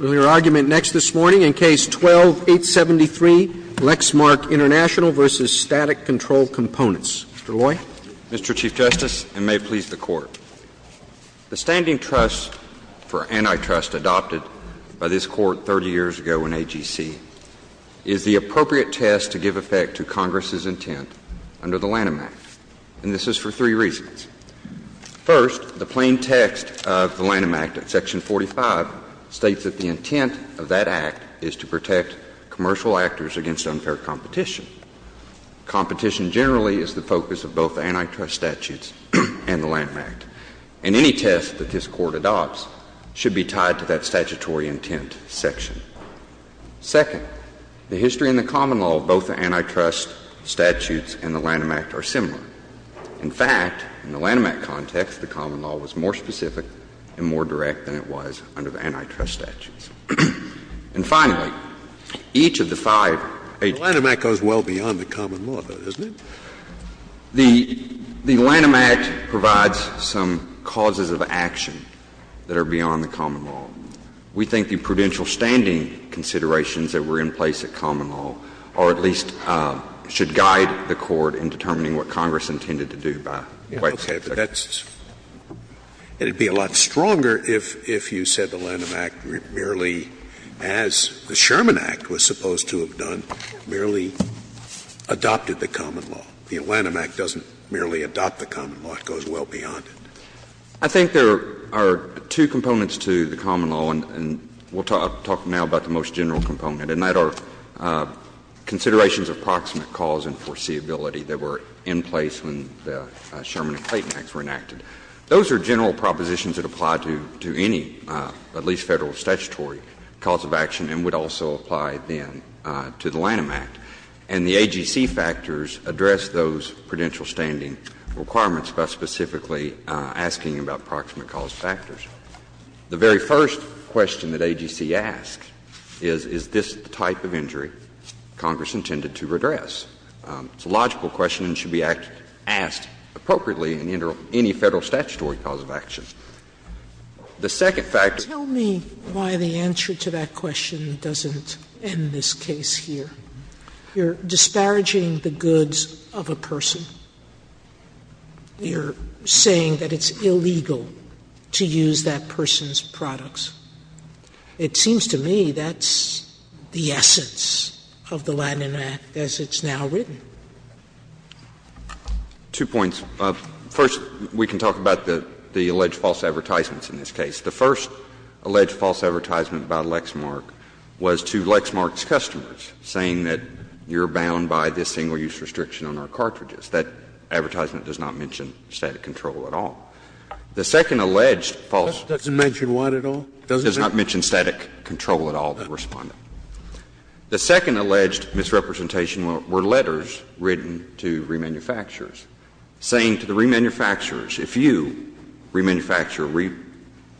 Roberts, Mr. Chief Justice, and may it please the Court, the standing trust for antitrust adopted by this Court 30 years ago in AGC is the appropriate test to give effect to Congress's intent under the Lanham Act, and this is for three reasons. First, the plain text of the Lanham Act itself states that the antitrust statute in Section 45 states that the intent of that act is to protect commercial actors against unfair competition. Competition generally is the focus of both antitrust statutes and the Lanham Act. And any test that this Court adopts should be tied to that statutory intent section. Second, the history and the common law of both the antitrust statutes and the Lanham Act are similar. In fact, in the Lanham Act context, the common law was more specific and more direct than it was under the antitrust statutes. And finally, each of the five agents of the Lanham Act provides some causes of action that are beyond the common law. We think the prudential standing considerations that were in place at common law or at least should guide the Court in determining It would be a lot stronger if you said the Lanham Act merely, as the Sherman Act was supposed to have done, merely adopted the common law. The Lanham Act doesn't merely adopt the common law. It goes well beyond it. I think there are two components to the common law, and we'll talk now about the most general component, and that are considerations of proximate cause and foreseeability that were in place when the Sherman and Clayton Acts were enacted. Those are general propositions that apply to any at least Federal statutory cause of action and would also apply then to the Lanham Act. And the AGC factors address those prudential standing requirements by specifically asking about proximate cause factors. The very first question that AGC asks is, is this the type of injury Congress intended to address? It's a logical question and should be asked appropriately in any Federal statutory cause of action. The second factor is that the Federal statutory cause of action should be addressed by the Federal statutory cause of action. Sotomayor, you're saying that it's illegal to use that person's products. It seems to me that's the essence of the Lanham Act as it's now written. Two points. First, we can talk about the alleged false advertisements in this case. The first alleged false advertisement by Lexmark was to Lexmark's customers saying that you're bound by this single-use restriction on our cartridges. That advertisement does not mention static control at all. The second alleged false advertisement does not mention static control at all, the Respondent. The second alleged misrepresentation were letters written to remanufacturers saying to the remanufacturers, if you remanufacture or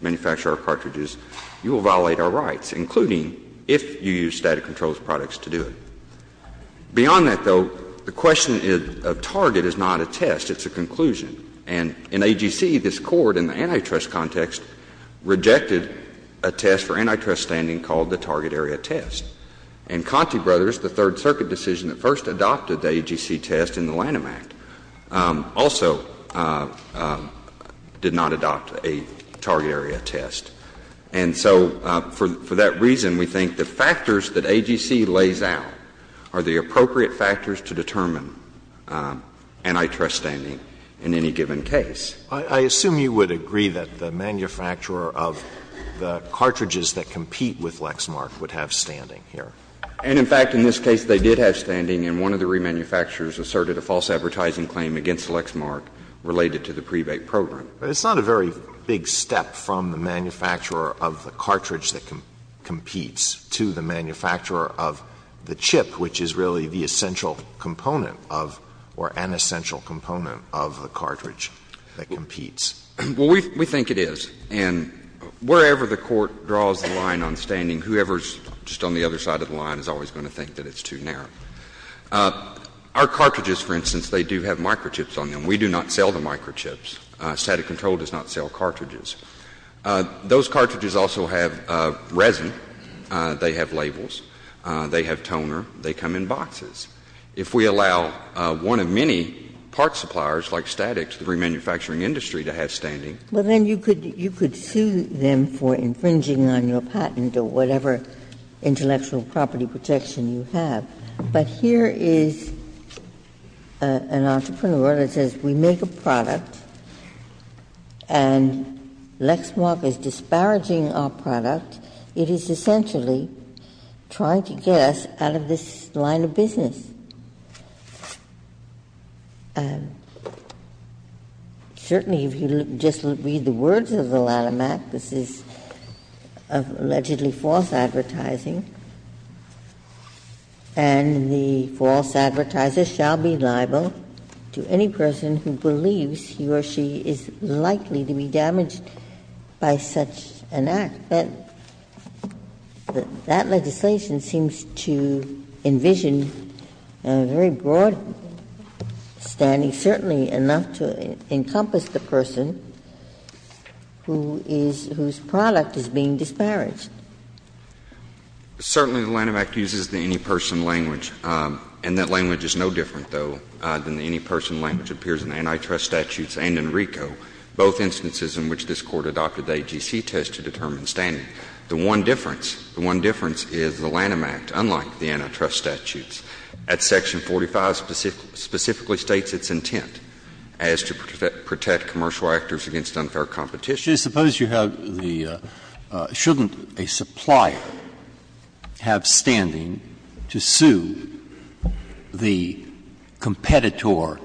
remanufacture our cartridges, you will violate our rights, including if you use static control products to do it. Beyond that, though, the question of target is not a test, it's a conclusion. And in AGC, this Court in the antitrust context rejected a test for antitrust standing called the target area test. And Conte Brothers, the Third Circuit decision that first adopted the AGC test in the Lanham Act, also did not adopt a target area test. And so, for that reason, we think the factors that AGC lays out are the appropriate factors to determine antitrust standing in any given case. Alitoso, I assume you would agree that the manufacturer of the cartridges that compete with Lexmark would have standing here. And, in fact, in this case, they did have standing, and one of the remanufacturers asserted a false advertising claim against Lexmark related to the pre-Bate program. Alitoso, it's not a very big step from the manufacturer of the cartridge that competes to the manufacturer of the chip, which is really the essential component of or an essential component of the cartridge that competes. Well, we think it is. And wherever the Court draws the line on standing, whoever is just on the other side of the line is always going to think that it's too narrow. Our cartridges, for instance, they do have microchips on them. We do not sell the microchips. Static Control does not sell cartridges. Those cartridges also have resin. They have labels. They have toner. They come in boxes. If we allow one of many parts suppliers like Statix, the remanufacturing industry, to have standing. Well, then you could sue them for infringing on your patent or whatever intellectual property protection you have. But here is an entrepreneur that says, we make a product, and Lexmark is disparaging our product, it is essentially trying to get us out of this line of business. Certainly, if you just read the words of the Lattimac, this is allegedly false advertising. And the false advertiser shall be liable to any person who believes he or she is likely to be damaged by such an act. That legislation seems to envision a very broad standing, certainly enough to encompass the person whose product is being disparaged. Certainly, the Lattimac uses the any person language, and that language is no different, though, than the any person language that appears in antitrust statutes and in RICO, both instances in which this Court adopted the AGC test to determine standing. The one difference, the one difference is the Lattimac, unlike the antitrust statutes, at section 45 specifically states its intent as to protect commercial actors against unfair competition. Breyer, suppose you have the --"shouldn't a supplier have standing to sue the competitor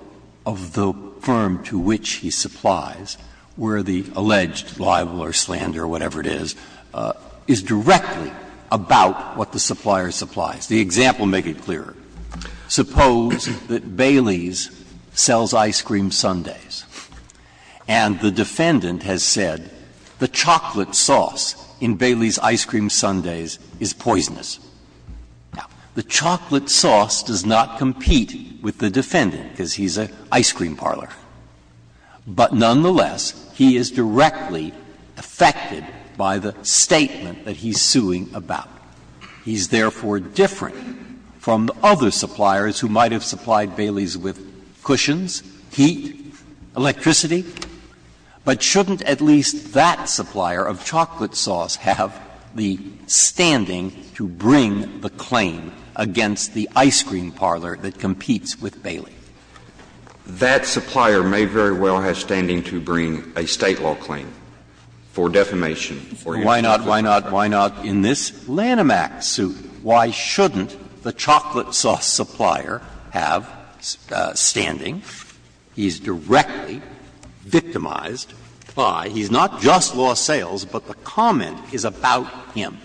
of the firm to which he supplies, where the alleged libel or slander, whatever it is, is directly about what the supplier supplies?" The example, make it clearer. Suppose that Bailey's sells ice cream sundaes and the defendant has said the chocolate sauce in Bailey's ice cream sundaes is poisonous. Now, the chocolate sauce does not compete with the defendant because he's an ice cream parlor, but nonetheless, he is directly affected by the statement that he's suing about. He's therefore different from other suppliers who might have supplied Bailey's with cushions, heat, electricity. But shouldn't at least that supplier of chocolate sauce have the standing to bring the claim against the ice cream parlor that competes with Bailey? That supplier may very well have standing to bring a State law claim for defamation or anything. Why not, why not, why not in this Lanham Act suit, why shouldn't the chocolate sauce supplier have standing? He's directly victimized by he's not just lost sales, but the comment is about him.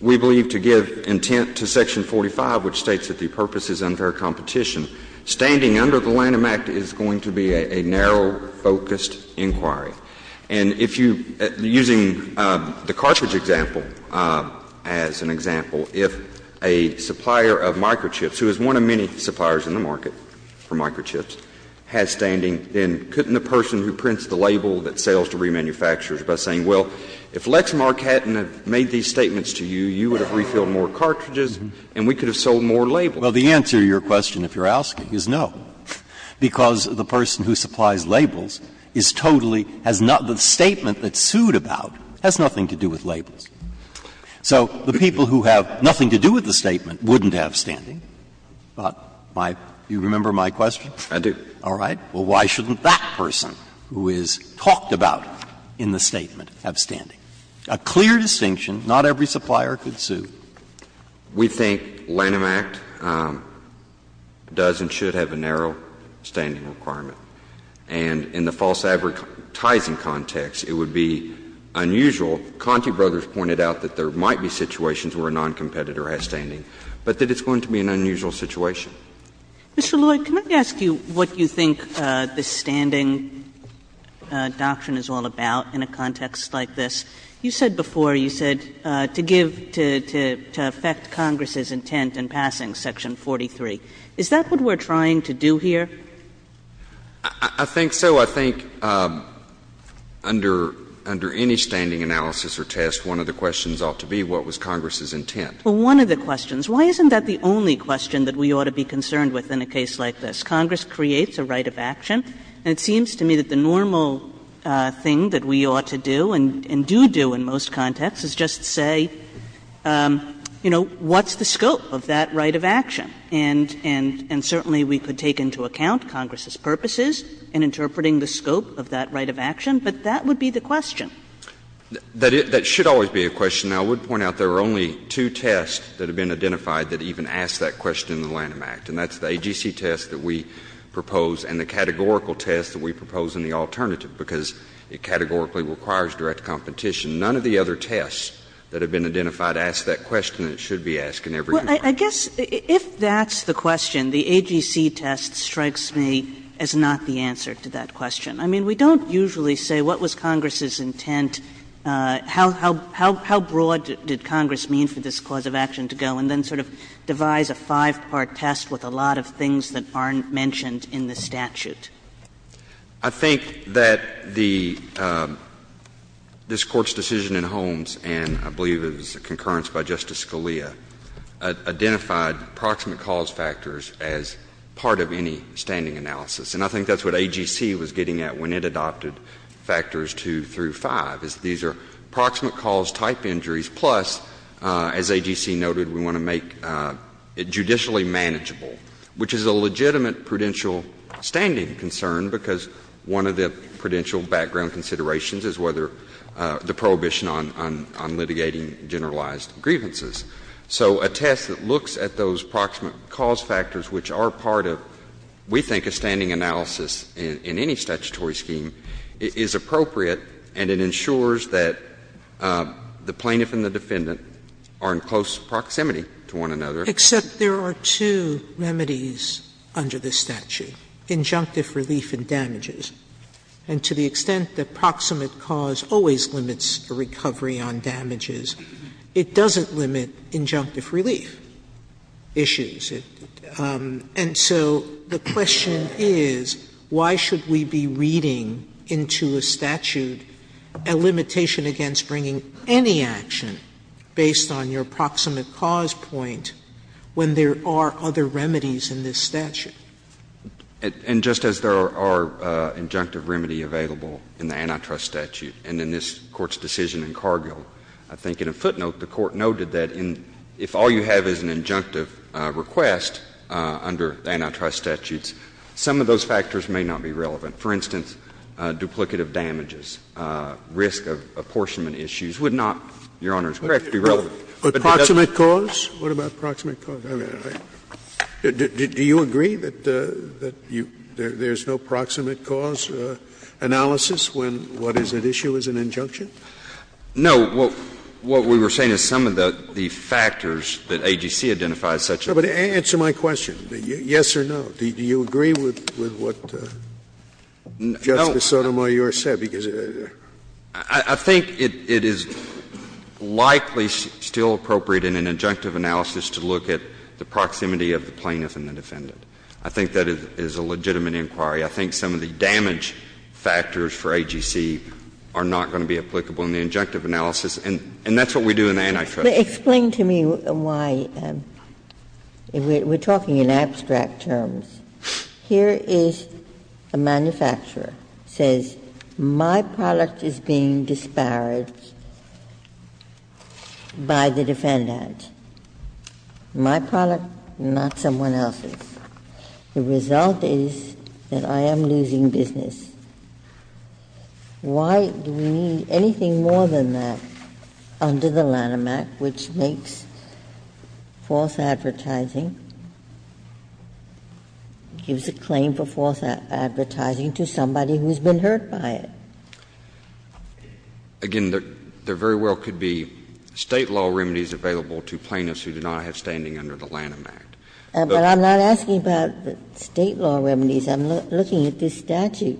We believe to give intent to section 45, which states that the purpose is unfair competition, standing under the Lanham Act is going to be a narrow-focused inquiry. And if you, using the cartridge example as an example, if a supplier of microchips, who is one of many suppliers in the market for microchips, has standing, then couldn't the person who prints the label that sells to remanufacturers by saying, well, if Lex Marcaten had made these statements to you, you would have refilled more cartridges and we could have sold more labels? Well, the answer to your question, if you're asking, is no, because the person who supplies labels is totally, has not, the statement that's sued about has nothing to do with labels. So the people who have nothing to do with the statement wouldn't have standing. My, do you remember my question? Alitono, I do. All right. Well, why shouldn't that person who is talked about in the statement have standing? A clear distinction, not every supplier could sue. We think Lanham Act does and should have a narrow standing requirement. And in the false advertising context, it would be unusual. Conte Brothers pointed out that there might be situations where a noncompetitor has standing, but that it's going to be an unusual situation. Mr. Lloyd, can I ask you what you think the standing doctrine is all about in a context like this? You said before, you said, to give, to affect Congress's intent in passing section 43. Is that what we're trying to do here? I think so. I think under any standing analysis or test, one of the questions ought to be what was Congress's intent. Well, one of the questions. Why isn't that the only question that we ought to be concerned with in a case like this? Congress creates a right of action, and it seems to me that the normal thing that we ought to do and do do in most contexts is just say, you know, what's the scope of that right of action? And certainly we could take into account Congress's purposes in interpreting the scope of that right of action, but that would be the question. That should always be a question. Now, I would point out there are only two tests that have been identified that even ask that question in the Lanham Act, and that's the AGC test that we propose and the categorical test that we propose in the alternative, because it categorically requires direct competition. None of the other tests that have been identified ask that question that it should be asked in every court. Kagan. Kagan. Kagan. If that's the question, the AGC test strikes me as not the answer to that question. I mean, we don't usually say what was Congress's intent, how broad did Congress mean for this cause of action to go and then sort of devise a five-part test with a lot of things that aren't mentioned in the statute. I think that the — this Court's decision in Holmes, and I believe it was concurrence by Justice Scalia, identified proximate cause factors as part of any standing analysis. And I think that's what AGC was getting at when it adopted factors 2 through 5, is these are proximate cause type injuries, plus, as AGC noted, we want to make them judicially manageable, which is a legitimate prudential standing concern, because one of the prudential background considerations is whether the prohibition on litigating generalized grievances. So a test that looks at those proximate cause factors, which are part of, we think, a standing analysis in any statutory scheme, is appropriate and it ensures that the statute doesn't limit injunctive relief issues to the extent that proximate cause always limits a recovery on damages. It doesn't limit injunctive relief issues, and so the question is, why should we be reading into a statute a limitation against bringing any action based on your proximate cause point when there are other remedies in this statute? And just as there are injunctive remedy available in the antitrust statute and in this Court's decision in Cargill, I think in a footnote the Court noted that if all you have is an injunctive request under antitrust statutes, some of those factors may not be relevant. For instance, duplicative damages, risk of apportionment issues would not, Your Honor's correct, be relevant. Scalia. But proximate cause? What about proximate cause? I mean, do you agree that there's no proximate cause analysis when what is at issue is an injunction? No. What we were saying is some of the factors that AGC identifies such as that. Answer my question. Yes or no? Do you agree with what Justice Sotomayor said? I think it is likely still appropriate in an injunctive analysis to look at the proximity of the plaintiff and the defendant. I think that is a legitimate inquiry. I think some of the damage factors for AGC are not going to be applicable in the injunctive analysis, and that's what we do in antitrust. Explain to me why, we're talking in abstract terms. Here is a manufacturer says, my product is being disparaged by the defendant. My product, not someone else's. The result is that I am losing business. Why do we need anything more than that under the Lanham Act, which makes false advertising? It gives a claim for false advertising to somebody who has been hurt by it. Again, there very well could be State law remedies available to plaintiffs who do not have standing under the Lanham Act. But I'm not asking about State law remedies. I'm looking at this statute,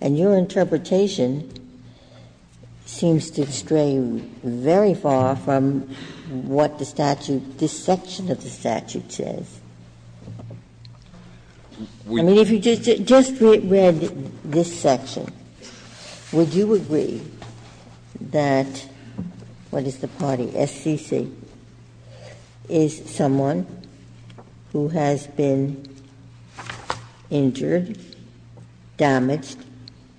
and your interpretation seems to stray very far from what the statute, this section of the statute says. I mean, if you just read this section, would you agree that, what is the party? SCC is someone who has been injured, damaged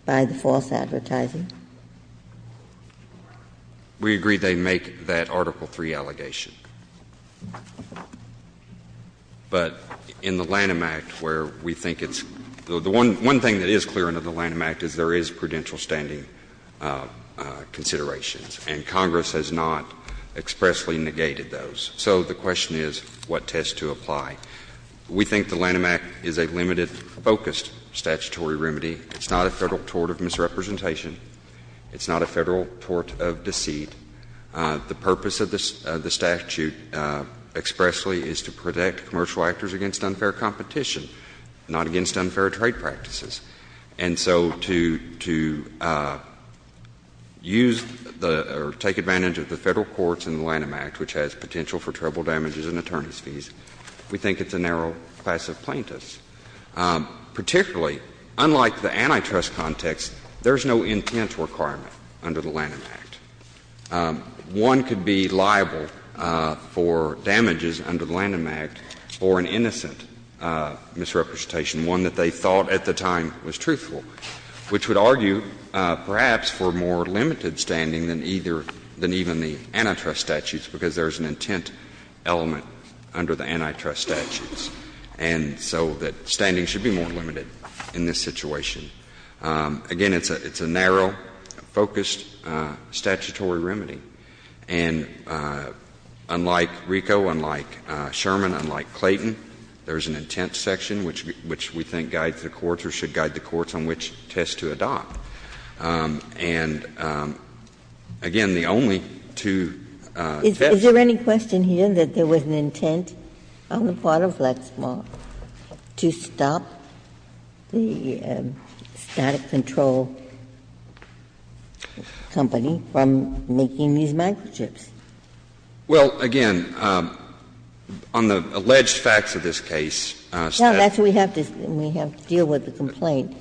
by the false advertising? We agree they make that Article III allegation. But in the Lanham Act, where we think it's the one thing that is clear under the Lanham Act is there is prudential standing considerations, and Congress has not expressly negated those. So the question is, what test to apply? We think the Lanham Act is a limited, focused statutory remedy. It's not a Federal tort of misrepresentation. It's not a Federal tort of deceit. The purpose of the statute expressly is to protect commercial actors against unfair competition, not against unfair trade practices. And so to use the or take advantage of the Federal courts in the Lanham Act, which has potential for treble damages and attorneys' fees, we think it's a narrow class of plaintiffs. Particularly, unlike the antitrust context, there is no intent requirement under the Lanham Act. One could be liable for damages under the Lanham Act for an innocent misrepresentation, one that they thought at the time was truthful, which would argue perhaps for more limited standing than either the antitrust statutes, because there is an intent element under the antitrust statutes. And so that standing should be more limited in this situation. Again, it's a narrow, focused statutory remedy. And unlike RICO, unlike Sherman, unlike Clayton, there is an intent section which we think guides the courts or should guide the courts on which test to adopt. And again, the only two tests. Ginsburg. Is there any question here that there was an intent on the part of Lexmark to stop the static control company from making these microchips? Well, again, on the alleged facts of this case, statutes. We have to deal with the complaint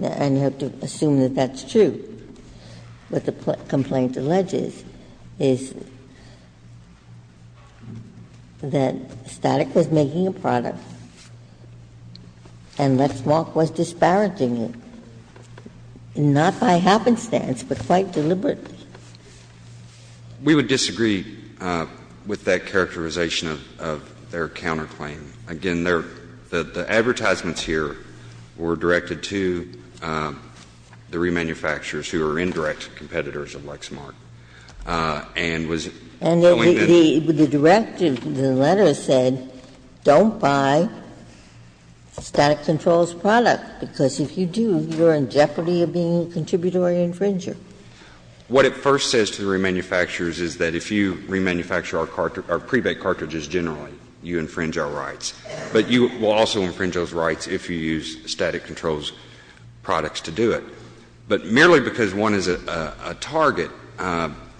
and have to assume that that's true. What the complaint alleges is that Static was making a product and Lexmark was disparaging it, not by happenstance, but quite deliberately. We would disagree with that characterization of their counterclaim. Again, the advertisements here were directed to the remanufacturers who are indirect competitors of Lexmark and was going to. And the directive, the letter said don't buy Static Control's product, because if you do, you are in jeopardy of being a contributory infringer. What it first says to the remanufacturers is that if you remanufacture our pre-baked cartridges generally, you infringe our rights, but you will also infringe those rights if you use Static Control's products to do it. But merely because one is a target,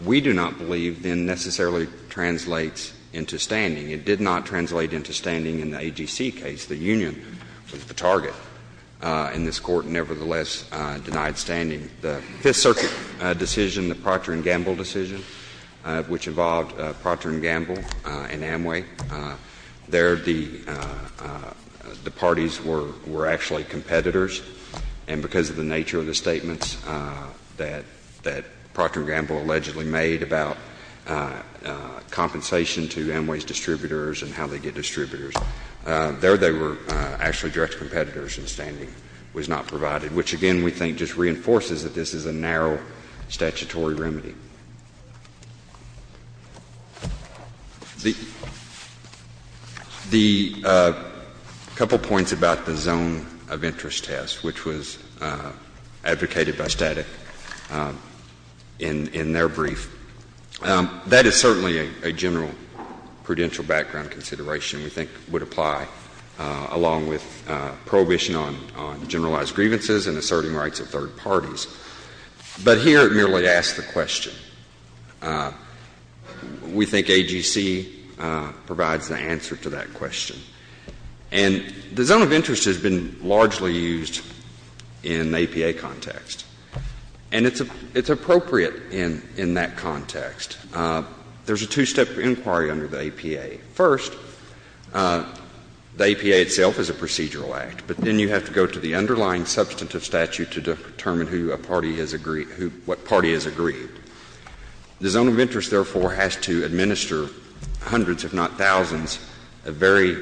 we do not believe then necessarily translates into standing. It did not translate into standing in the AGC case. The union was the target, and this Court nevertheless denied standing. The Fifth Circuit decision, the Procter & Gamble decision, which involved Procter & Gamble and Amway, there the parties were actually competitors, and because of the nature of the statements that Procter & Gamble allegedly made about compensation to Amway's distributors and how they get distributors, there they were actually direct competitors, and standing was not provided, which, again, we think just reinforces that this is a narrow statutory remedy. The couple points about the zone of interest test, which was advocated by Static in their brief, that is certainly a general prudential background consideration we think would be helpful. But here it merely asks the question. We think AGC provides the answer to that question. And the zone of interest has been largely used in the APA context, and it's appropriate in that context. There's a two-step inquiry under the APA. First, the APA itself is a procedural act, but then you have to go to the underlying substantive statute to determine who a party has agreed, what party has agreed. The zone of interest, therefore, has to administer hundreds, if not thousands, of very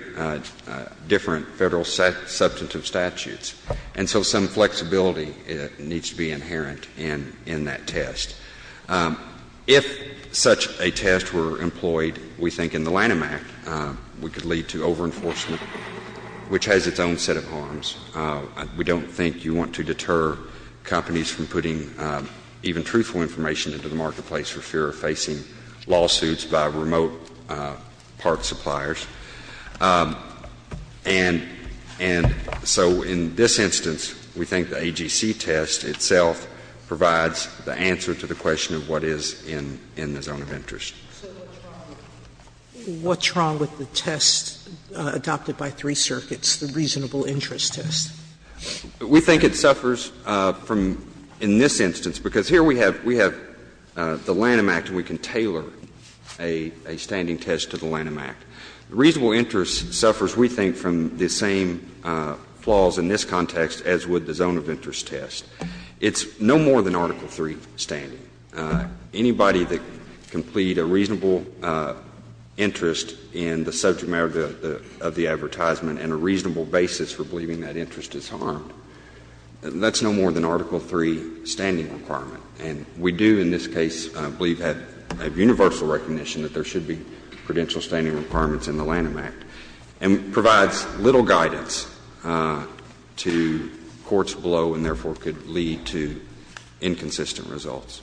different Federal substantive statutes. And so some flexibility needs to be inherent in that test. If such a test were employed, we think in the Lanham Act, we could lead to over-enforcement, which has its own set of harms. We don't think you want to deter companies from putting even truthful information into the marketplace for fear of facing lawsuits by remote parts suppliers. And so in this instance, we think the AGC test itself provides the answer to the question of what is in the zone of interest. Sotomayor, what's wrong with the test adopted by three circuits, the reasonable interest test? We think it suffers from, in this instance, because here we have the Lanham Act and we can tailor a standing test to the Lanham Act. Reasonable interest suffers, we think, from the same flaws in this context as would the zone of interest test. It's no more than Article III standing. Anybody that can plead a reasonable interest in the subject matter of the advertisement and a reasonable basis for believing that interest is harmed, that's no more than Article III standing requirement. And we do in this case believe, have universal recognition, that there should be prudential standing requirements in the Lanham Act. And it provides little guidance to courts below and, therefore, could lead to inconsistent results.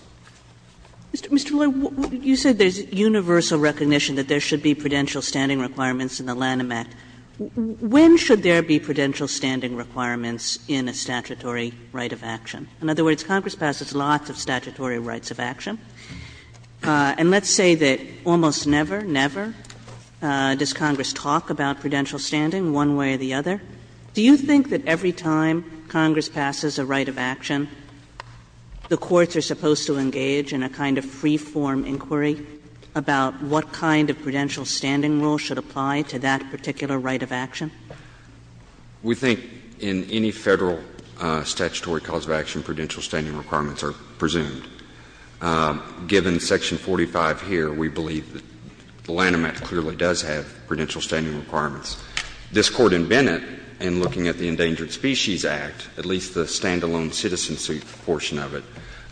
Kagan. Mr. Roy, you said there's universal recognition that there should be prudential standing requirements in the Lanham Act. When should there be prudential standing requirements in a statutory right of action? In other words, Congress passes lots of statutory rights of action. And let's say that almost never, never does Congress talk about prudential standing one way or the other. Do you think that every time Congress passes a right of action, the courts are supposed to engage in a kind of free-form inquiry about what kind of prudential standing rule should apply to that particular right of action? We think in any Federal statutory cause of action, prudential standing requirements are presumed. Given section 45 here, we believe that the Lanham Act clearly does have prudential standing requirements. This Court in Bennett, in looking at the Endangered Species Act, at least the standalone citizen suit portion of it,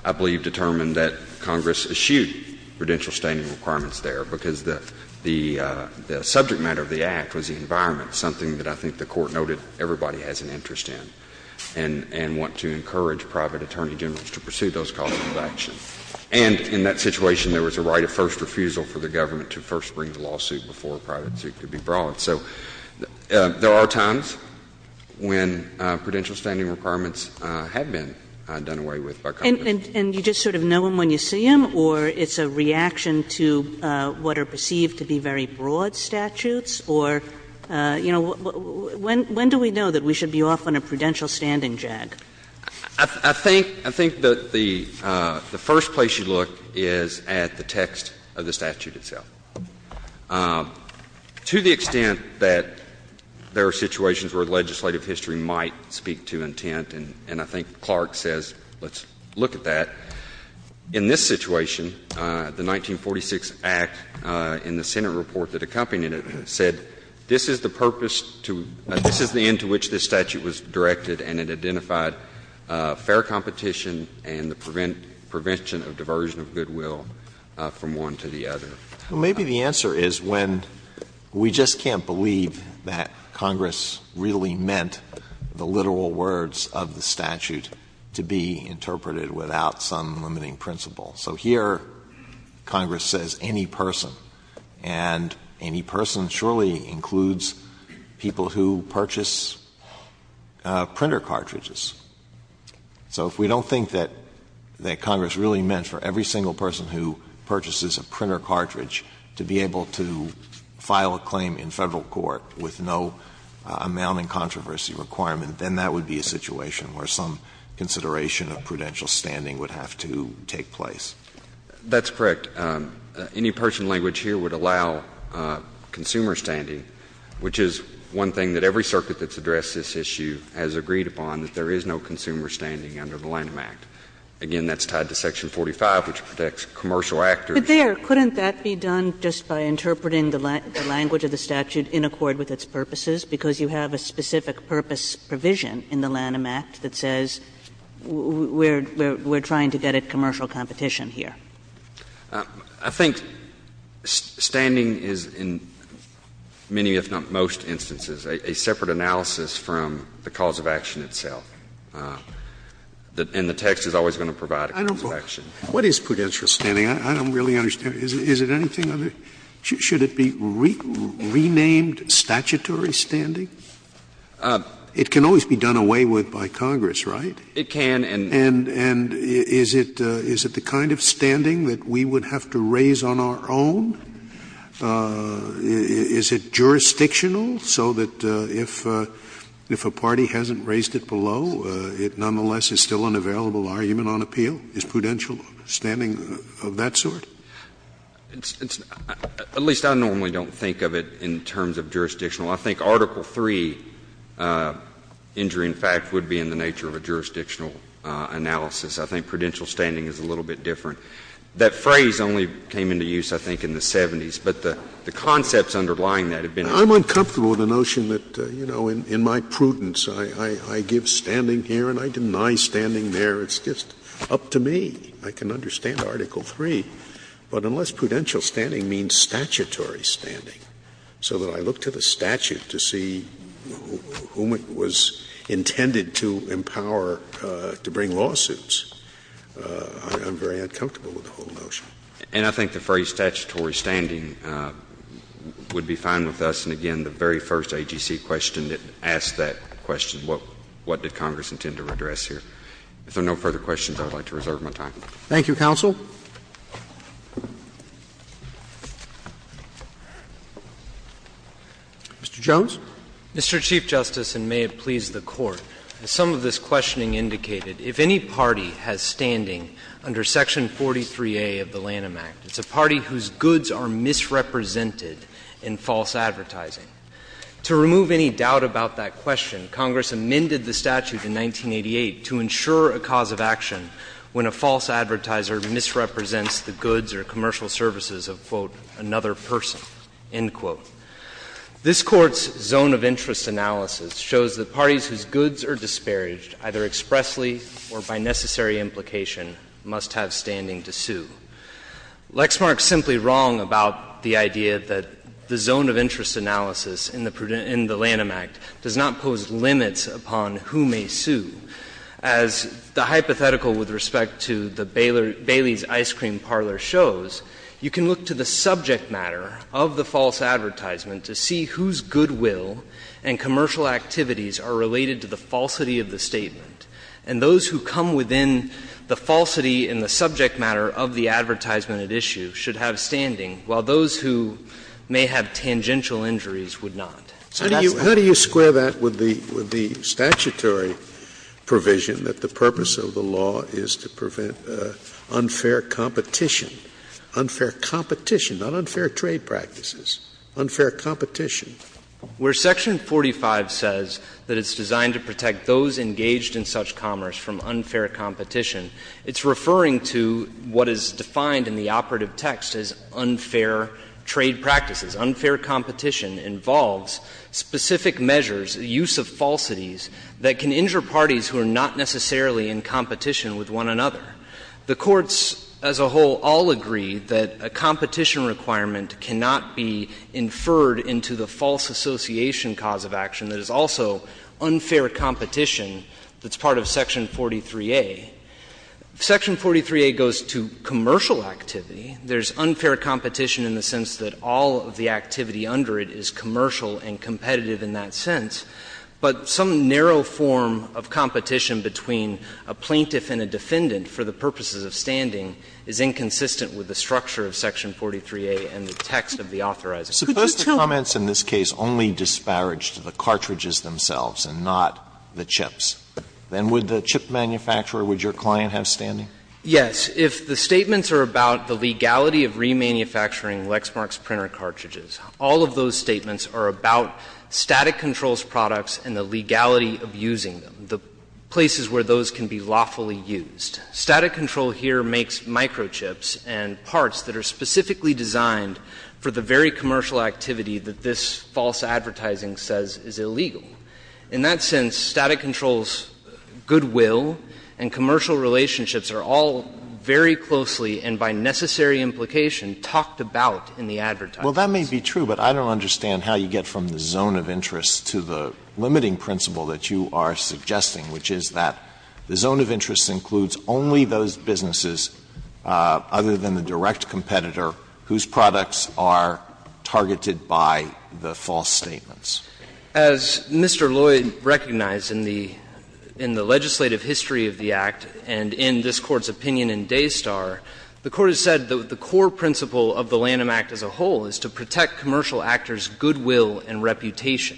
I believe determined that Congress eschewed prudential standing requirements there because the subject matter of the Act was the environment, something that I think the Court noted everybody has an interest in and want to encourage private attorney generals to pursue those causes of action. And in that situation, there was a right of first refusal for the government to first bring the lawsuit before a private suit could be brought. So there are times when prudential standing requirements have been done away with by Congress. And you just sort of know them when you see them, or it's a reaction to what are perceived to be very broad statutes, or, you know, when do we know that we should be off on a prudential standing jag? I think that the first place you look is at the text of the statute itself. To the extent that there are situations where legislative history might speak to intent, and I think Clark says let's look at that, in this situation, the 1946 Act in the Senate report that accompanied it said this is the purpose to — this is the end to which this statute was directed, and it identified fair competition and the prevention of diversion of goodwill from one to the other. Well, maybe the answer is when we just can't believe that Congress really meant the literal words of the statute to be interpreted without some limiting principle. So here Congress says any person, and any person surely includes people who purchase printer cartridges. So if we don't think that Congress really meant for every single person who purchases a printer cartridge to be able to file a claim in Federal court with no amounting controversy requirement, then that would be a situation where some consideration of prudential standing would have to take place. That's correct. Any person language here would allow consumer standing, which is one thing that every circuit that's addressed this issue has agreed upon, that there is no consumer standing under the Lanham Act. Again, that's tied to section 45, which protects commercial actors. But there, couldn't that be done just by interpreting the language of the statute in accord with its purposes, because you have a specific purpose provision in the Lanham Act that says we're trying to get at commercial competition here? I think standing is, in many, if not most, instances, a separate analysis from the cause of action itself. And the text is always going to provide a cause of action. Scalia, what is prudential standing? I don't really understand. Is it anything other? Should it be renamed statutory standing? It can always be done away with by Congress, right? It can, and. And is it the kind of standing that we would have to raise on our own? Is it jurisdictional, so that if a party hasn't raised it below, it nonetheless is still an available argument on appeal? Is prudential standing of that sort? At least I normally don't think of it in terms of jurisdictional. I think Article III injury, in fact, would be in the nature of a jurisdictional analysis. I think prudential standing is a little bit different. That phrase only came into use, I think, in the 70s, but the concepts underlying that have been used. Scalia, I'm uncomfortable with the notion that, you know, in my prudence, I give standing here and I deny standing there. It's just up to me. I can understand Article III, but unless prudential standing means statutory standing, so that I look to the statute to see whom it was intended to empower to bring lawsuits, I'm very uncomfortable. I'm not comfortable with the whole notion. And I think the phrase statutory standing would be fine with us. And again, the very first AGC question that asked that question, what did Congress intend to address here? If there are no further questions, I would like to reserve my time. Thank you, counsel. Mr. Jones. Mr. Chief Justice, and may it please the Court, as some of this questioning indicated, if any party has standing under Section 43A of the Lanham Act, it's a party whose goods are misrepresented in false advertising, to remove any doubt about that question, Congress amended the statute in 1988 to ensure a cause of action when a false advertiser misrepresents the goods or commercial services of, quote, another person, end quote. This Court's zone of interest analysis shows that parties whose goods are disparaged, either expressly or by necessary implication, must have standing to sue. Lexmark's simply wrong about the idea that the zone of interest analysis in the Lanham Act does not pose limits upon who may sue. As the hypothetical with respect to the Bailey's Ice Cream Parlor shows, you can look to the subject matter of the false advertisement to see whose goodwill and commercial activities are related to the falsity of the statement, and those who come within the falsity in the subject matter of the advertisement at issue should have standing, while those who may have tangential injuries would not. So that's not the case. Scalia. How do you square that with the statutory provision that the purpose of the law is to prevent unfair competition? Unfair competition, not unfair trade practices, unfair competition. Where Section 45 says that it's designed to protect those engaged in such commerce from unfair competition, it's referring to what is defined in the operative text as unfair trade practices. Unfair competition involves specific measures, use of falsities, that can injure parties who are not necessarily in competition with one another. The courts as a whole all agree that a competition requirement cannot be inferred into the false association cause of action that is also unfair competition that's part of Section 43A. Section 43A goes to commercial activity. There's unfair competition in the sense that all of the activity under it is commercial and competitive in that sense, but some narrow form of competition between a plaintiff and a defendant for the purposes of standing is inconsistent with the structure of Section 43A and the text of the authorizing. Suppose the comments in this case only disparaged the cartridges themselves and not the chips. Then would the chip manufacturer, would your client have standing? Yes. If the statements are about the legality of remanufacturing Lexmark's printer cartridges, all of those statements are about Static Control's products and the legality of using them, the places where those can be lawfully used. Static Control here makes microchips and parts that are specifically designed for the very commercial activity that this false advertising says is illegal. In that sense, Static Control's goodwill and commercial relationships are all very closely and by necessary implication talked about in the advertising. Alito, that may be true, but I don't understand how you get from the zone of interest to the limiting principle that you are suggesting, which is that the zone of interest includes only those businesses, other than the direct competitor, whose products are targeted by the false statements. As Mr. Lloyd recognized in the legislative history of the Act and in this Court's opinion in Daystar, the Court has said that the core principle of the Lanham Act as a whole is to protect commercial actors' goodwill and reputation.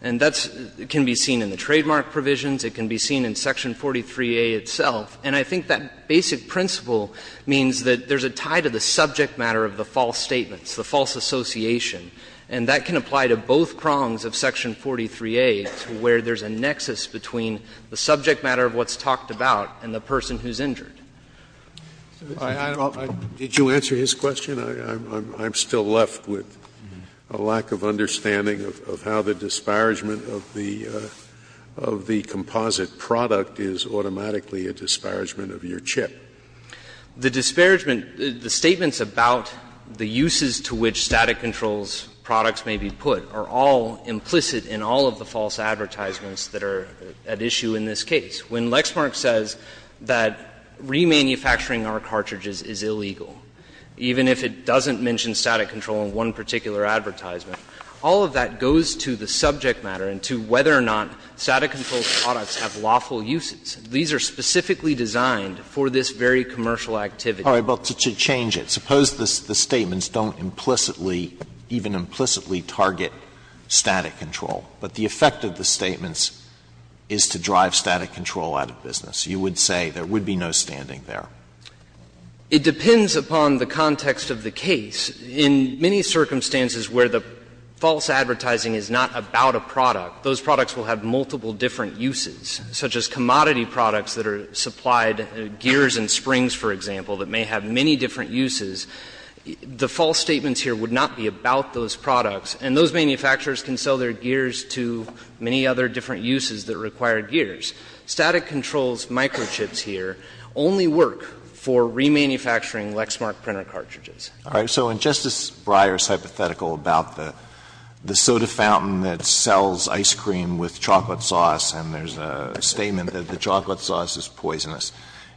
And that can be seen in the trademark provisions. It can be seen in section 43A itself. And I think that basic principle means that there's a tie to the subject matter of the false statements, the false association. And that can apply to both prongs of section 43A to where there's a nexus between the subject matter of what's talked about and the person who's injured. Scalia. Did you answer his question? I'm still left with a lack of understanding of how the disparagement of the component deposit product is automatically a disparagement of your chip. The disparagement, the statements about the uses to which static controls products may be put are all implicit in all of the false advertisements that are at issue in this case. When Lexmark says that remanufacturing our cartridges is illegal, even if it doesn't mention static control in one particular advertisement, all of that goes to the subject matter of whether or not those products have lawful uses. These are specifically designed for this very commercial activity. All right, but to change it, suppose the statements don't implicitly, even implicitly, target static control, but the effect of the statements is to drive static control out of business. You would say there would be no standing there. It depends upon the context of the case. In many circumstances where the false advertising is not about a product, those products will have multiple different uses, such as commodity products that are supplied, gears and springs, for example, that may have many different uses, the false statements here would not be about those products, and those manufacturers can sell their gears to many other different uses that require gears. Static controls microchips here only work for remanufacturing Lexmark printer cartridges. All right. So in Justice Breyer's hypothetical about the soda fountain that sells ice cream with chocolate sauce, and there's a statement that the chocolate sauce is poisonous,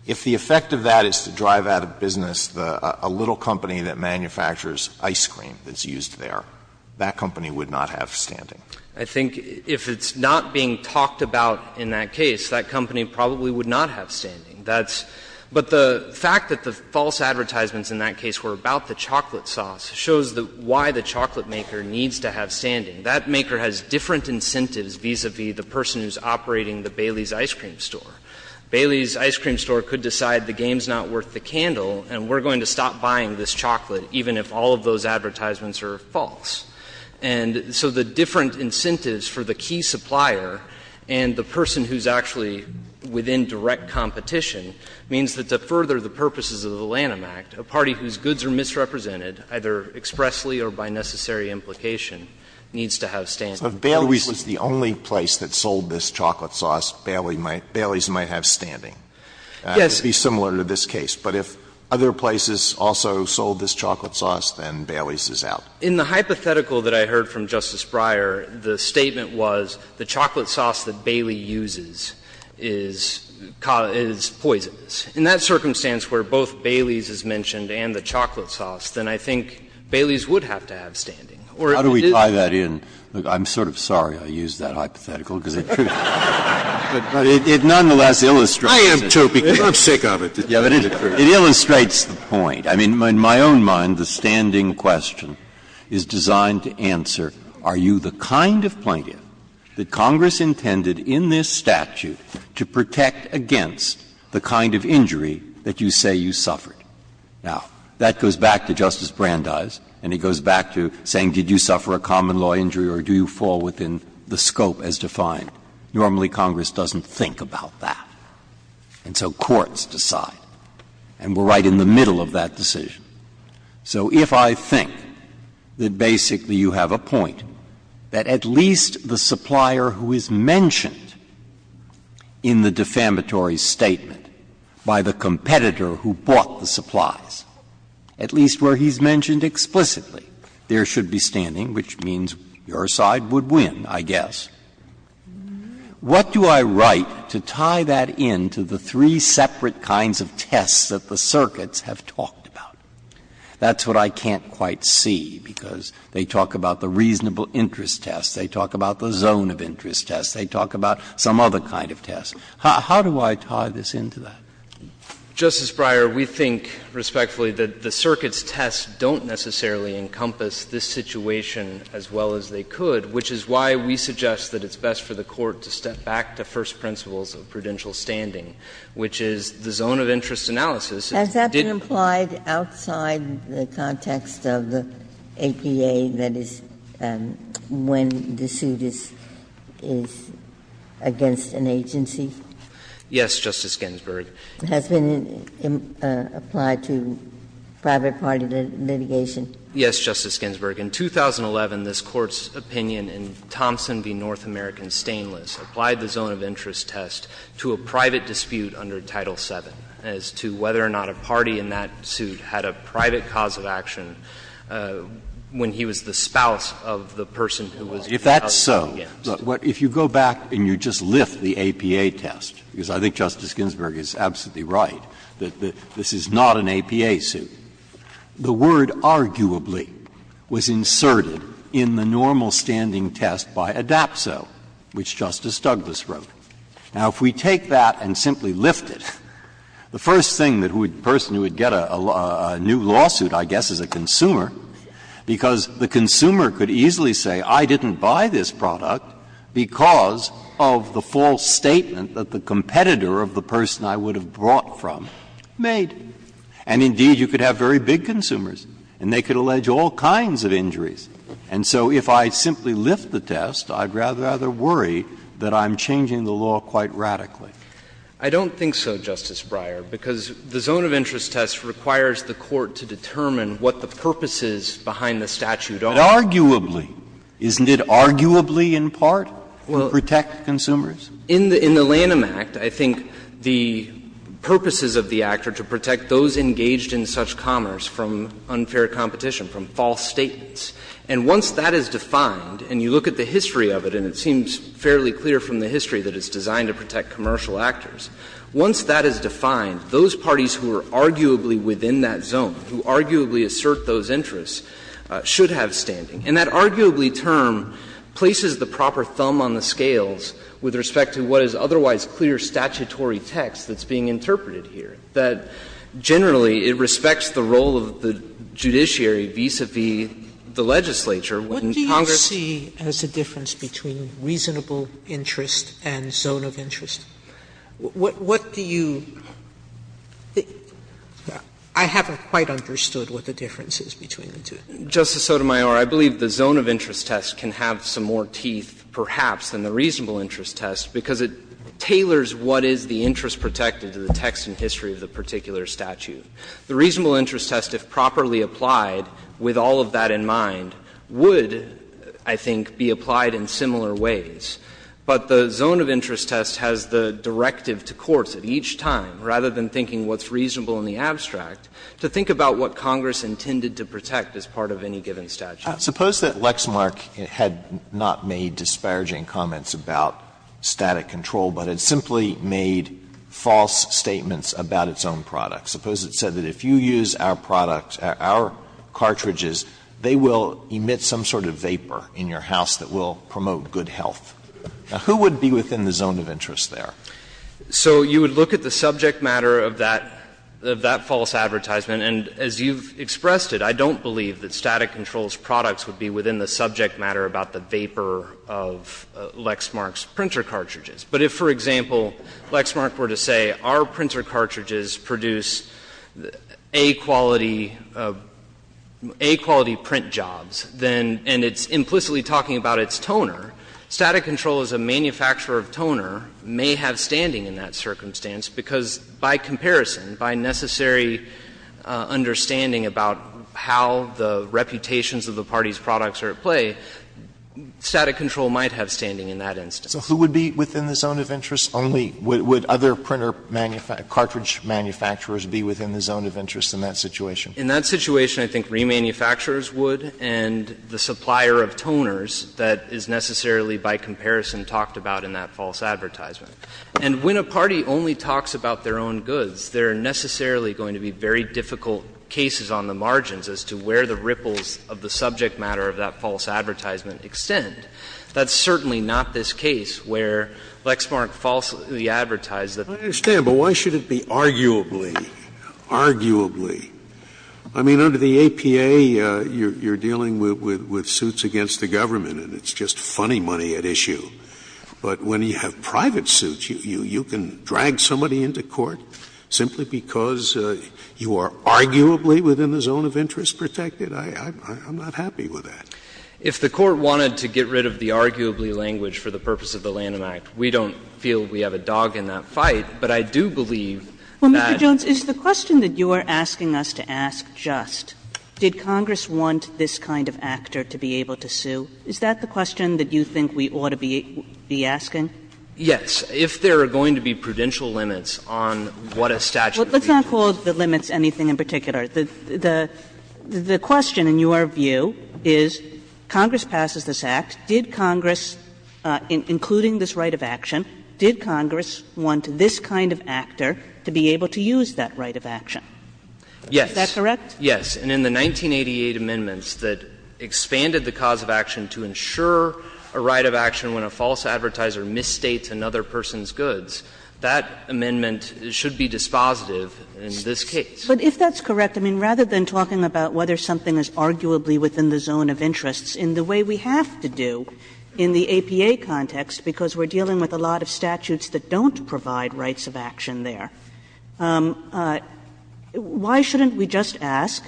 if the effect of that is to drive out of business a little company that manufactures ice cream that's used there, that company would not have standing. I think if it's not being talked about in that case, that company probably would not have standing. That's – but the fact that the false advertisements in that case were about the chocolate sauce shows why the chocolate maker needs to have standing. That maker has different incentives vis-a-vis the person who's operating the Bailey's ice cream store. Bailey's ice cream store could decide the game's not worth the candle and we're going to stop buying this chocolate even if all of those advertisements are false. And so the different incentives for the key supplier and the person who's actually within direct competition means that to further the purposes of the Lanham Act, a party whose goods are misrepresented, either expressly or by necessary implication, needs to have standing. Alito If Bailey's was the only place that sold this chocolate sauce, Bailey's might have standing. Yes. It would be similar to this case. But if other places also sold this chocolate sauce, then Bailey's is out. In the hypothetical that I heard from Justice Breyer, the statement was the chocolate sauce that Bailey uses is poisonous. In that circumstance where both Bailey's is mentioned and the chocolate sauce, then I think Bailey's would have to have standing. Breyer How do we tie that in? I'm sort of sorry I used that hypothetical, because it truly illustrates the point. It illustrates the point. I mean, in my own mind, the standing question is designed to answer, are you the kind of plaintiff that Congress intended in this statute to protect against the kind of injury that you say you suffered? Now, that goes back to Justice Brandeis, and it goes back to saying, did you suffer a common law injury or do you fall within the scope as defined? Normally, Congress doesn't think about that. And so courts decide, and we're right in the middle of that decision. So if I think that basically you have a point that at least the supplier who is mentioned in the defamatory statement by the competitor who bought the supplies, at least where he's mentioned explicitly, there should be standing, which means your side would win, I guess, what do I write to tie that in to the three separate kinds of tests that the circuits have talked about? That's what I can't quite see, because they talk about the reasonable interest test, they talk about the zone of interest test, they talk about some other kind of test. How do I tie this into that? Burschel, Justice Breyer, we think respectfully that the circuits' tests don't necessarily encompass this situation as well as they could, which is why we suggest that it's best for the Court to step back to first principles of prudential standing, which is the zone of interest analysis. Has that been applied outside the context of the APA, that is, when the suit is against an agency? Yes, Justice Ginsburg. Has it been applied to private party litigation? Yes, Justice Ginsburg. In 2011, this Court's opinion in Thompson v. North American Stainless applied the zone of interest test to a private dispute under Title VII as to whether or not a party in that suit had a private cause of action when he was the spouse of the person who was the spouse who was against. Breyer, if that's so, if you go back and you just lift the APA test, because I think Justice Ginsburg is absolutely right that this is not an APA suit, the word arguably was inserted in the normal standing test by ADAPSO, which Justice Douglas wrote. Now, if we take that and simply lift it, the first thing that a person who would get a new lawsuit, I guess, is a consumer, because the consumer could easily say, I didn't buy this product because of the false statement that the competitor of the person I would have brought from made. And indeed, you could have very big consumers and they could allege all kinds of injuries. And so if I simply lift the test, I'd rather worry that I'm changing the law quite radically. I don't think so, Justice Breyer, because the zone of interest test requires the Court to determine what the purposes behind the statute are. But arguably, isn't it arguably in part to protect consumers? In the Lanham Act, I think the purposes of the act are to protect those engaged in such commerce from unfair competition, from false statements. And once that is defined, and you look at the history of it, and it seems fairly clear from the history that it's designed to protect commercial actors, once that is defined, those parties who are arguably within that zone, who arguably assert those interests, should have standing. And that arguably term places the proper thumb on the scales with respect to what is otherwise clear statutory text that's being interpreted here, that generally it respects the role of the judiciary vis-a-vis the legislature when Congress does not. Sotomayor What do you see as a difference between reasonable interest and zone of interest? What do you – I haven't quite understood what the difference is between the two. Justice Sotomayor, I believe the zone of interest test can have some more teeth perhaps than the reasonable interest test, because it tailors what is the interest protected to the text and history of the particular statute. The reasonable interest test, if properly applied with all of that in mind, would, I think, be applied in similar ways. But the zone of interest test has the directive to courts at each time, rather than thinking what's reasonable in the abstract, to think about what Congress intended to protect as part of any given statute. Alito Suppose that Lexmark had not made disparaging comments about static control, but had simply made false statements about its own product. Suppose it said that if you use our product, our cartridges, they will emit some sort of vapor in your house that will promote good health. Now, who would be within the zone of interest there? So you would look at the subject matter of that false advertisement, and as you've expressed it, I don't believe that static control's products would be within the subject matter about the vapor of Lexmark's printer cartridges. But if, for example, Lexmark were to say our printer cartridges produce A-quality print jobs, and it's implicitly talking about its toner, static control as a manufacturer of toner may have standing in that circumstance, because by comparison, by necessary understanding about how the reputations of the party's products are at play, static control might have standing in that instance. Alito So who would be within the zone of interest? Only would other printer cartridge manufacturers be within the zone of interest in that situation? In that situation, I think remanufacturers would, and the supplier of toners that is necessarily by comparison talked about in that false advertisement. And when a party only talks about their own goods, there are necessarily going to be very difficult cases on the margins as to where the ripples of the subject matter of that false advertisement extend. That's certainly not this case where Lexmark falsely advertised that the company was a manufacturer of toners. Scalia I understand, but why should it be arguably, arguably? I mean, under the APA, you're dealing with suits against the government, and it's just funny money at issue. But when you have private suits, you can drag somebody into court simply because you are arguably within the zone of interest protected? I'm not happy with that. Jay If the Court wanted to get rid of the arguably language for the purpose of the Lanham Act, we don't feel we have a dog in that fight. But I do believe that Kagan Well, Mr. Jones, is the question that you are asking us to ask just, did Congress want this kind of actor to be able to sue, is that the question that you think we ought to be asking? Jay Yes. If there are going to be prudential limits on what a statute would be. Kagan Let's not call the limits anything in particular. The question, in your view, is Congress passes this Act, did Congress, including this right of action, did Congress want this kind of actor to be able to use that right of action? Is that correct? Jay Yes. And in the 1988 amendments that expanded the cause of action to ensure a right of action when a false advertiser misstates another person's goods, that amendment should be dispositive in this case. Kagan But if that's correct, I mean, rather than talking about whether something is arguably within the zone of interests in the way we have to do in the APA context, because we are dealing with a lot of statutes that don't provide rights of action there, why shouldn't we just ask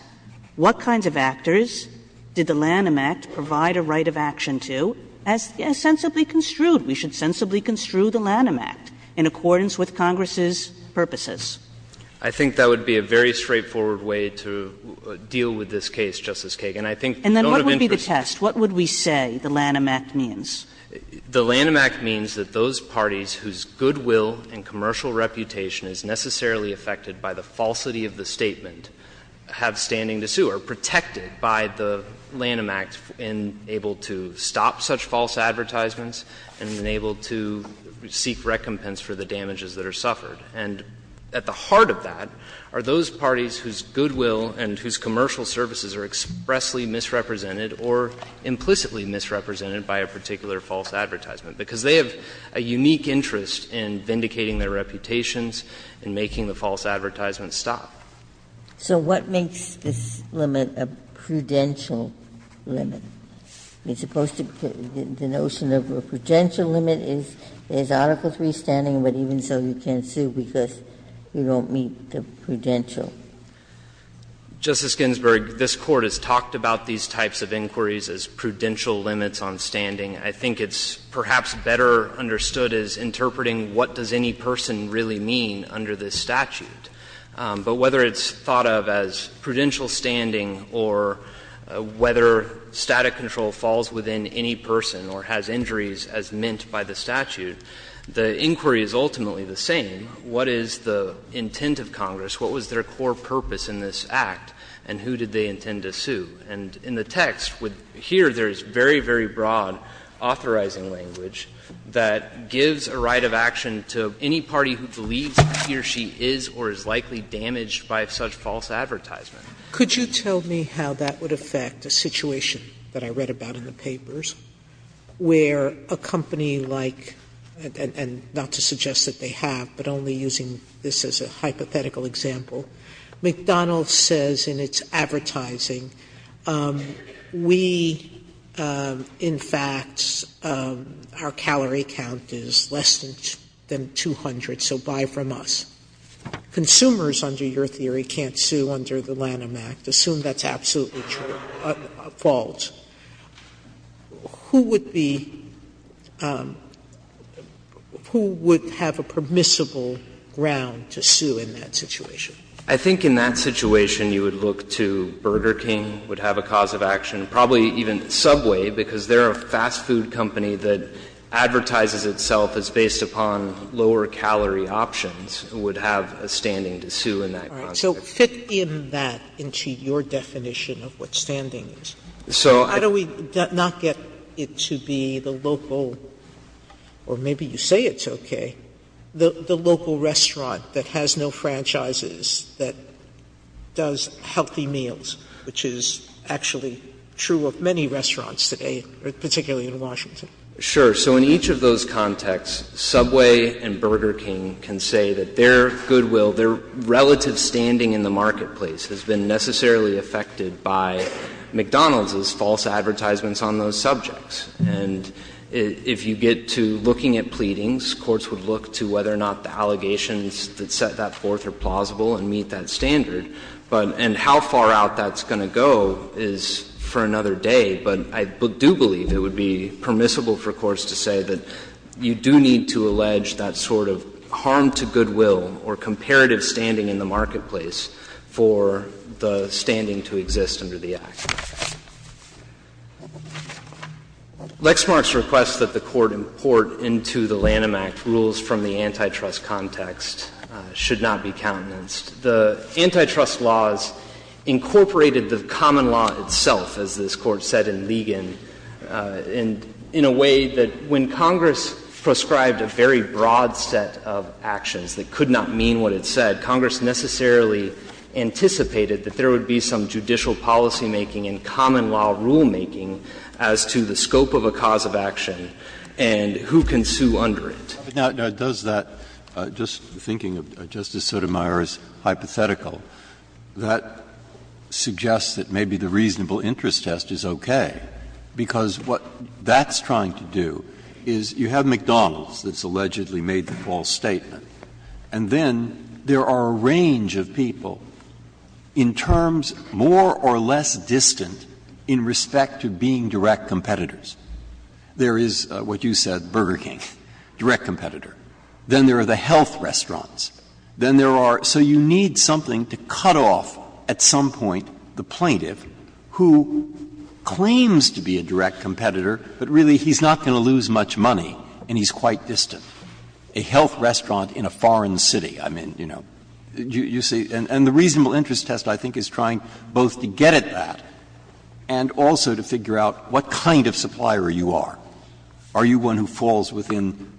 what kinds of actors did the Lanham Act provide a right of action to as sensibly construed? We should sensibly construe the Lanham Act in accordance with Congress's purposes. Jay I think that would be a very straightforward way to deal with this case, Justice Kagan. I think the zone of interest Kagan And then what would be the test? What would we say the Lanham Act means? Jay The Lanham Act means that those parties whose goodwill and commercial reputation is necessarily affected by the falsity of the statement have standing to sue, are able to stop such false advertisements, and are able to seek recompense for the damages that are suffered. And at the heart of that are those parties whose goodwill and whose commercial services are expressly misrepresented or implicitly misrepresented by a particular false advertisement, because they have a unique interest in vindicating their reputations and making the false advertisements stop. Ginsburg So what makes this limit a prudential limit? As opposed to the notion of a prudential limit is Article III standing, but even so you can't sue because you don't meet the prudential. Jay Justice Ginsburg, this Court has talked about these types of inquiries as prudential limits on standing. I think it's perhaps better understood as interpreting what does any person really mean under this statute. But whether it's thought of as prudential standing or whether static control falls within any person or has injuries as meant by the statute, the inquiry is ultimately the same. What is the intent of Congress? What was their core purpose in this Act, and who did they intend to sue? And in the text, here there is very, very broad authorizing language that gives a right of action to any party who believes he or she is or is likely damaged by such false advertisement. Sotomayor Could you tell me how that would affect a situation that I read about in the papers where a company like, and not to suggest that they have, but only using this as a hypothetical example, McDonald's says in its advertising, we, in fact, our calorie count is less than 200, so buy from us. Consumers, under your theory, can't sue under the Lanham Act. Assume that's absolutely true, false. Who would be – who would have a permissible ground to sue in that situation? I think in that situation you would look to Burger King would have a cause of action, probably even Subway, because they're a fast food company that advertises itself as based upon lower calorie options, would have a standing to sue in that Sotomayor All right. So fit in that into your definition of what standing is. How do we not get it to be the local, or maybe you say it's okay, the local restaurant that has no franchises, that does healthy meals, which is actually true of many restaurants today, particularly in Washington? Sure. So in each of those contexts, Subway and Burger King can say that their goodwill, their relative standing in the marketplace has been necessarily affected by McDonald's' false advertisements on those subjects. And if you get to looking at pleadings, courts would look to whether or not the allegations that set that forth are plausible and meet that standard, and how far out that's going to go is for another day. But I do believe it would be permissible for courts to say that you do need to allege that sort of harm to goodwill or comparative standing in the marketplace for the standing to exist under the Act. Lexmark's request that the Court import into the Lanham Act rules from the antitrust context should not be countenanced. The antitrust laws incorporated the common law itself, as this Court said in Ligon, in a way that when Congress prescribed a very broad set of actions that could not mean what it said, Congress necessarily anticipated that there would be some judicial policymaking and common law rulemaking as to the scope of a cause of action and who can sue under it. Breyer. Now, does that, just thinking of Justice Sotomayor's hypothetical, that suggests that maybe the reasonable interest test is okay, because what that's trying to do is you have McDonald's that's allegedly made the false statement, and then there are a range of people in terms more or less distant in respect to being direct competitors. There is what you said, Burger King, direct competitor. Then there are the health restaurants. Then there are so you need something to cut off at some point the plaintiff who claims to be a direct competitor, but really he's not going to lose much money and he's quite distant. A health restaurant in a foreign city, I mean, you know, you see. And the reasonable interest test, I think, is trying both to get at that and also to figure out what kind of supplier you are. Are you one who falls within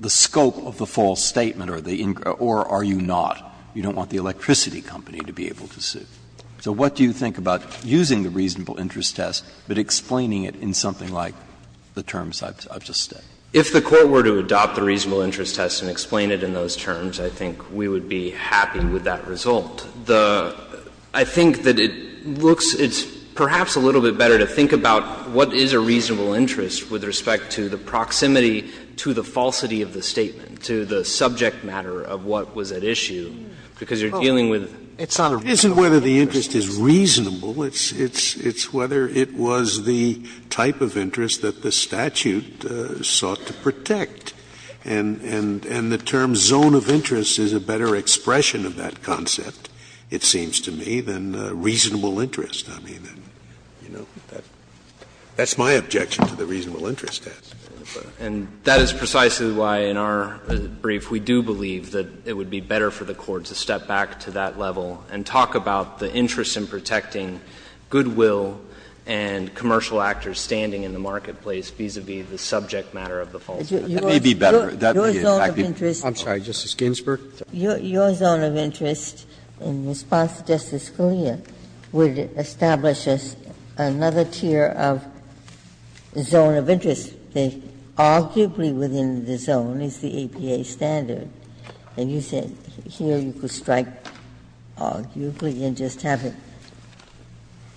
the scope of the false statement or are you not? You don't want the electricity company to be able to sue. So what do you think about using the reasonable interest test, but explaining it in something like the terms I've just stated? If the Court were to adopt the reasonable interest test and explain it in those terms, I think we would be happy with that result. I think that it looks, it's perhaps a little bit better to think about what is a reasonable interest with respect to the proximity to the falsity of the statement, to the subject matter of what was at issue, because you're dealing with, it's not a reasonable interest test. Scalia, It isn't whether the interest is reasonable, it's whether it was the type of interest that the statute sought to protect. And the term zone of interest is a better expression of that concept, it seems to me, than reasonable interest. I mean, that's my objection to the reasonable interest test. And that is precisely why in our brief we do believe that it would be better for the Court to step back to that level and talk about the interest in protecting goodwill and commercial actors standing in the marketplace vis-a-vis the subject matter of the falsity. That would be better. That would be a fact. Ginsburg, Your zone of interest, in response to Justice Scalia, would establish us another tier of zone of interest, that arguably within the zone is the APA standard. And you said here you could strike arguably and just have it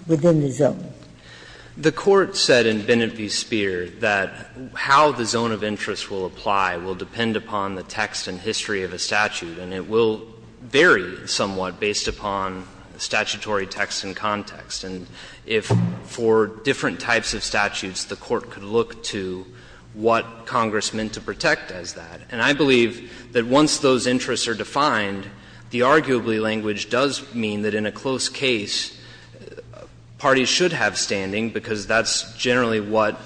within the zone. The Court said in Benefi's Spear that how the zone of interest will apply will depend upon the text and history of a statute, and it will vary somewhat based upon statutory text and context. And if for different types of statutes, the Court could look to what Congress meant to protect as that. And I believe that once those interests are defined, the arguably language does mean that in a close case, parties should have standing, because that's generally what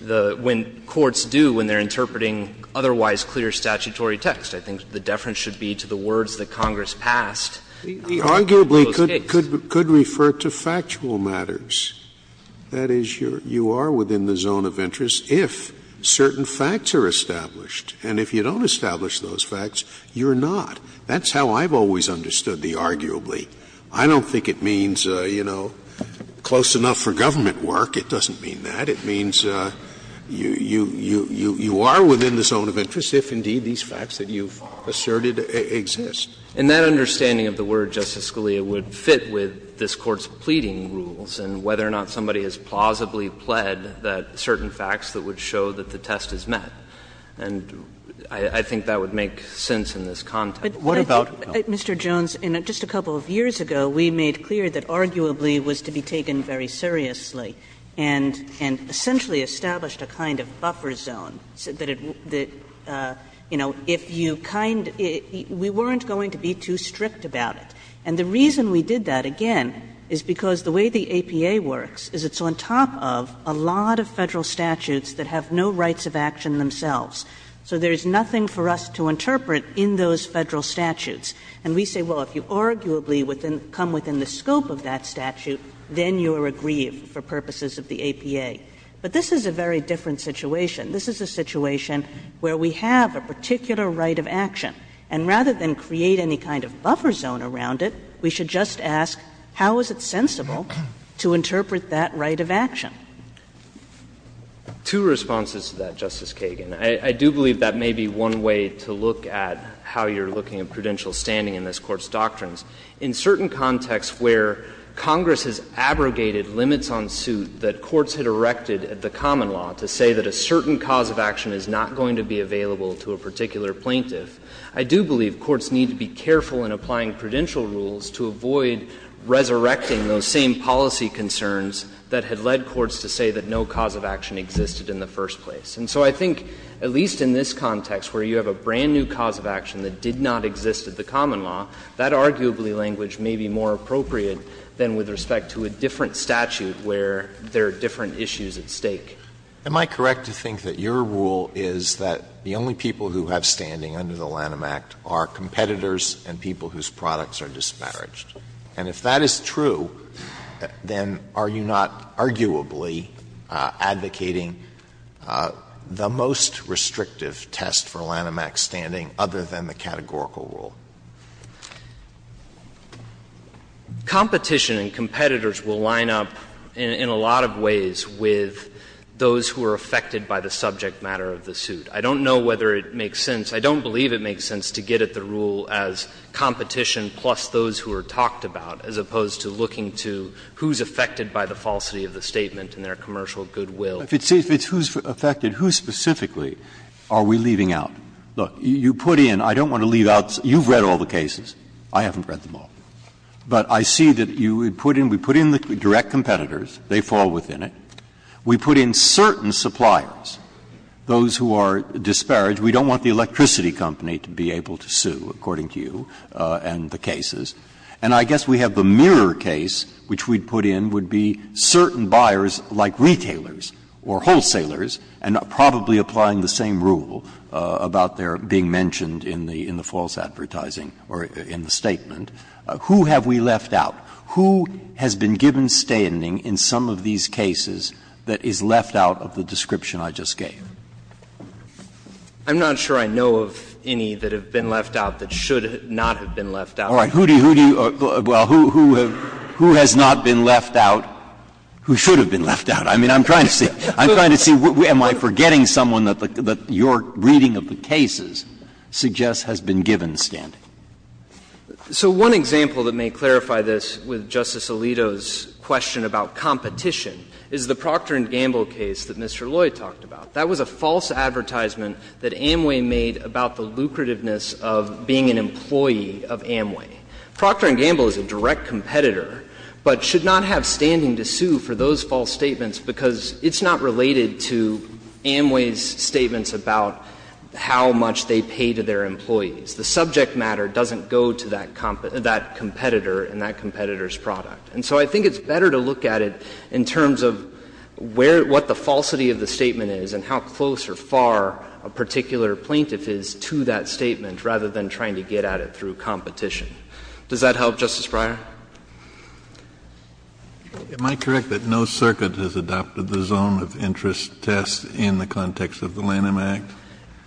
the courts do when they're interpreting otherwise clear statutory text. I think the deference should be to the words that Congress passed in a close case. Scalia, The arguably could refer to factual matters. That is, you are within the zone of interest if certain facts are established. And if you don't establish those facts, you're not. That's how I've always understood the arguably. I don't think it means, you know, close enough for government work. It doesn't mean that. It means you are within the zone of interest if, indeed, these facts that you've asserted exist. And that understanding of the word, Justice Scalia, would fit with this Court's pleading rules and whether or not somebody has plausibly pled that certain facts that would show that the test is met. And I think that would make sense in this context. But what about, Mr. Jones, in just a couple of years ago, we made clear that arguably was to be taken very seriously and essentially established a kind of buffer zone so that it, you know, if you kind of we weren't going to be too strict about it. And the reason we did that, again, is because the way the APA works is it's on top of a lot of Federal statutes that have no rights of action themselves. So there is nothing for us to interpret in those Federal statutes. And we say, well, if you arguably come within the scope of that statute, then you are aggrieved for purposes of the APA. But this is a very different situation. This is a situation where we have a particular right of action. And rather than create any kind of buffer zone around it, we should just ask how is it sensible to interpret that right of action? Jones, I think that's a good point, and I think it's a good point to make. Two responses to that, Justice Kagan. I do believe that may be one way to look at how you're looking at prudential standing in this Court's doctrines. In certain contexts where Congress has abrogated limits on suit that courts had erected at the common law to say that a certain cause of action is not going to be available to a particular plaintiff, I do believe courts need to be careful in applying prudential rules to avoid resurrecting those same policy concerns that had led courts to say that no cause of action existed in the first place. And so I think, at least in this context where you have a brand-new cause of action that did not exist at the common law, that arguably language may be more appropriate than with respect to a different statute where there are different issues at stake. Am I correct to think that your rule is that the only people who have standing under the Lanham Act are competitors and people whose products are disparaged? And if that is true, then are you not arguably advocating the most restrictive test for Lanham Act standing other than the categorical rule? Competition and competitors will line up in a lot of ways with those who are affected by the subject matter of the suit. I don't know whether it makes sense. I don't believe it makes sense to get at the rule as competition plus those who are talked about as opposed to looking to who is affected by the falsity of the statement in their commercial goodwill. Breyer, if it's who is affected, who specifically are we leaving out? Look, you put in, I don't want to leave out, you've read all the cases. I haven't read them all. But I see that you would put in, we put in the direct competitors, they fall within it. We put in certain suppliers, those who are disparaged. We don't want the electricity company to be able to sue, according to you, and the cases. And I guess we have the mirror case, which we put in would be certain buyers like retailers or wholesalers, and probably applying the same rule about their being mentioned in the false advertising or in the statement. Who have we left out? Who has been given standing in some of these cases that is left out of the description I just gave? I'm not sure I know of any that have been left out that should not have been left out. Breyer, who do you, well, who has not been left out who should have been left out? I mean, I'm trying to see, am I forgetting someone that your reading of the cases suggests has been given standing? So one example that may clarify this with Justice Alito's question about competition is the Procter & Gamble case that Mr. Loy talked about. That was a false advertisement that Amway made about the lucrativeness of being an employee of Amway. Procter & Gamble is a direct competitor, but should not have standing to sue for those false statements because it's not related to Amway's statements about how much they pay to their employees. The subject matter doesn't go to that competitor and that competitor's product. And so I think it's better to look at it in terms of where the falsity of the statement is and how close or far a particular plaintiff is to that statement rather than trying to get at it through competition. Does that help, Justice Breyer? Am I correct that no circuit has adopted the zone of interest test in the context of the Lanham Act?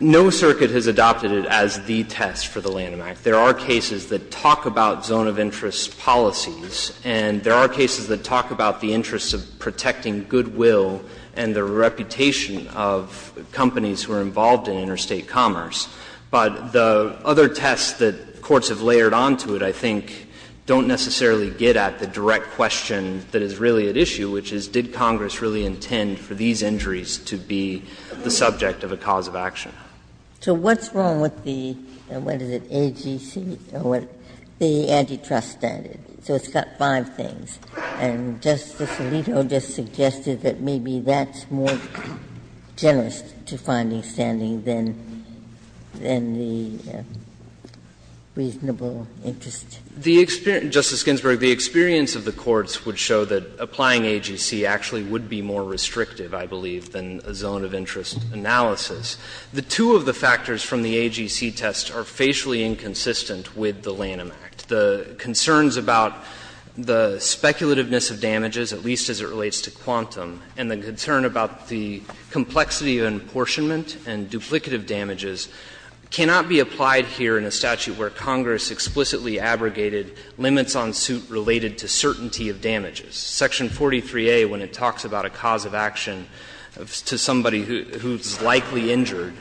No circuit has adopted it as the test for the Lanham Act. There are cases that talk about zone of interest policies, and there are cases that talk about the interests of protecting goodwill and the reputation of companies who are involved in interstate commerce. But the other tests that courts have layered onto it, I think, don't necessarily get at the direct question that is really at issue, which is did Congress really intend for these injuries to be the subject of a cause of action. So what's wrong with the, what is it, AGC, or what the antitrust standard is? So it's got five things. And Justice Alito just suggested that maybe that's more generous to finding standing than the reasonable interest. The experience, Justice Ginsburg, the experience of the courts would show that applying AGC actually would be more restrictive, I believe, than a zone of interest analysis. The two of the factors from the AGC test are facially inconsistent with the Lanham Act. The concerns about the speculativeness of damages, at least as it relates to quantum, and the concern about the complexity of apportionment and duplicative damages cannot be applied here in a statute where Congress explicitly abrogated limits on suit related to certainty of damages. Section 43A, when it talks about a cause of action to somebody who is likely injured,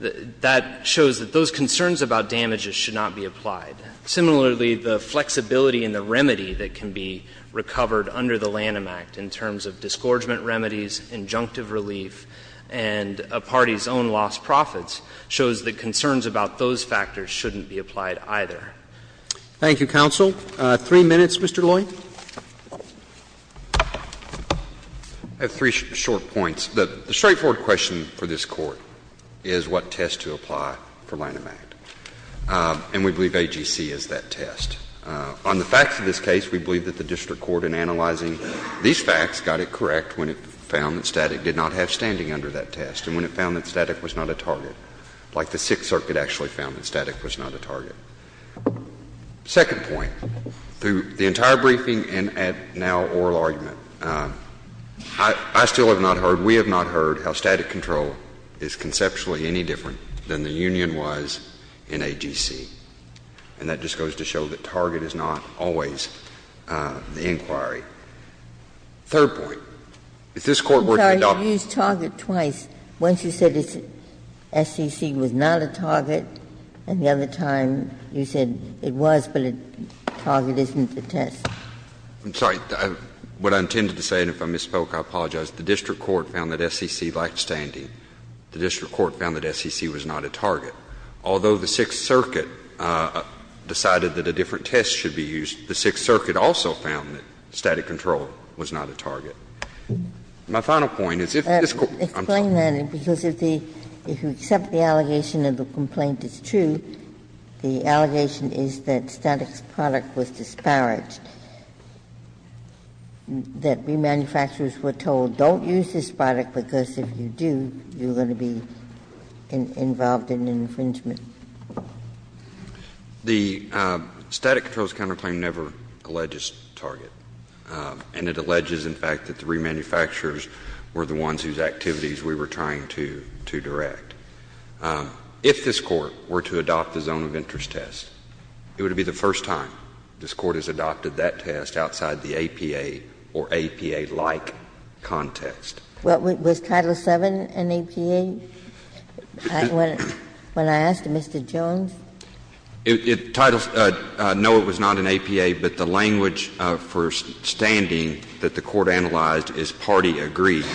that shows that those concerns about damages should not be applied. Similarly, the flexibility and the remedy that can be recovered under the Lanham Act in terms of disgorgement remedies, injunctive relief, and a party's own lost profits shows that concerns about those factors shouldn't be applied either. Roberts. Thank you, counsel. Three minutes, Mr. Loy. I have three short points. The straightforward question for this Court is what test to apply for Lanham Act. And we believe AGC is that test. On the facts of this case, we believe that the district court in analyzing these facts got it correct when it found that static did not have standing under that test and when it found that static was not a target, like the Sixth Circuit actually found that static was not a target. Second point, through the entire briefing and now oral argument, I still have not heard, we have not heard how static control is conceptually any different than the union-wise in AGC. And that just goes to show that target is not always the inquiry. Third point, if this Court were to adopt this. Ginsburg. I'm sorry, you used target twice. Once you said SEC was not a target, and the other time you said it was, but target isn't the test. I'm sorry. What I intended to say, and if I misspoke, I apologize, the district court found that SEC lacked standing. The district court found that SEC was not a target. Although the Sixth Circuit decided that a different test should be used, the Sixth Circuit also found that static control was not a target. My final point is if this Court, I'm sorry. Ginsburg. Explain that, because if the, if you accept the allegation of the complaint is true, the allegation is that static product was disparaged, that we manufacturers were told, don't use this product, because if you do, you're going to be involved in infringement. The static control's counterclaim never alleges target, and it alleges, in fact, that the remanufacturers were the ones whose activities we were trying to, to direct. If this Court were to adopt the zone of interest test, it would be the first time this Court has adopted that test outside the APA or APA-like context. Ginsburg. Was Title VII an APA? When I asked Mr. Jones? It, Title, no, it was not an APA, but the language for standing that the Court analyzed is party agreed.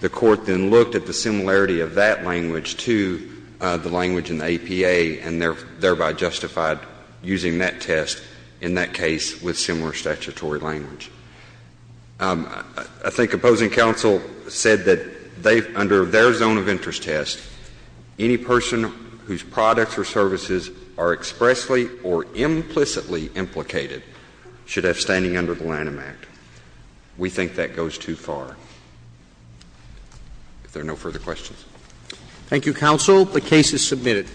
The Court then looked at the similarity of that language to the language in the APA and thereby justified using that test in that case with similar statutory language. I think opposing counsel said that they, under their zone of interest test, any person whose products or services are expressly or implicitly implicated should have standing under the Lanham Act. We think that goes too far. If there are no further questions. Thank you, counsel. The case is submitted.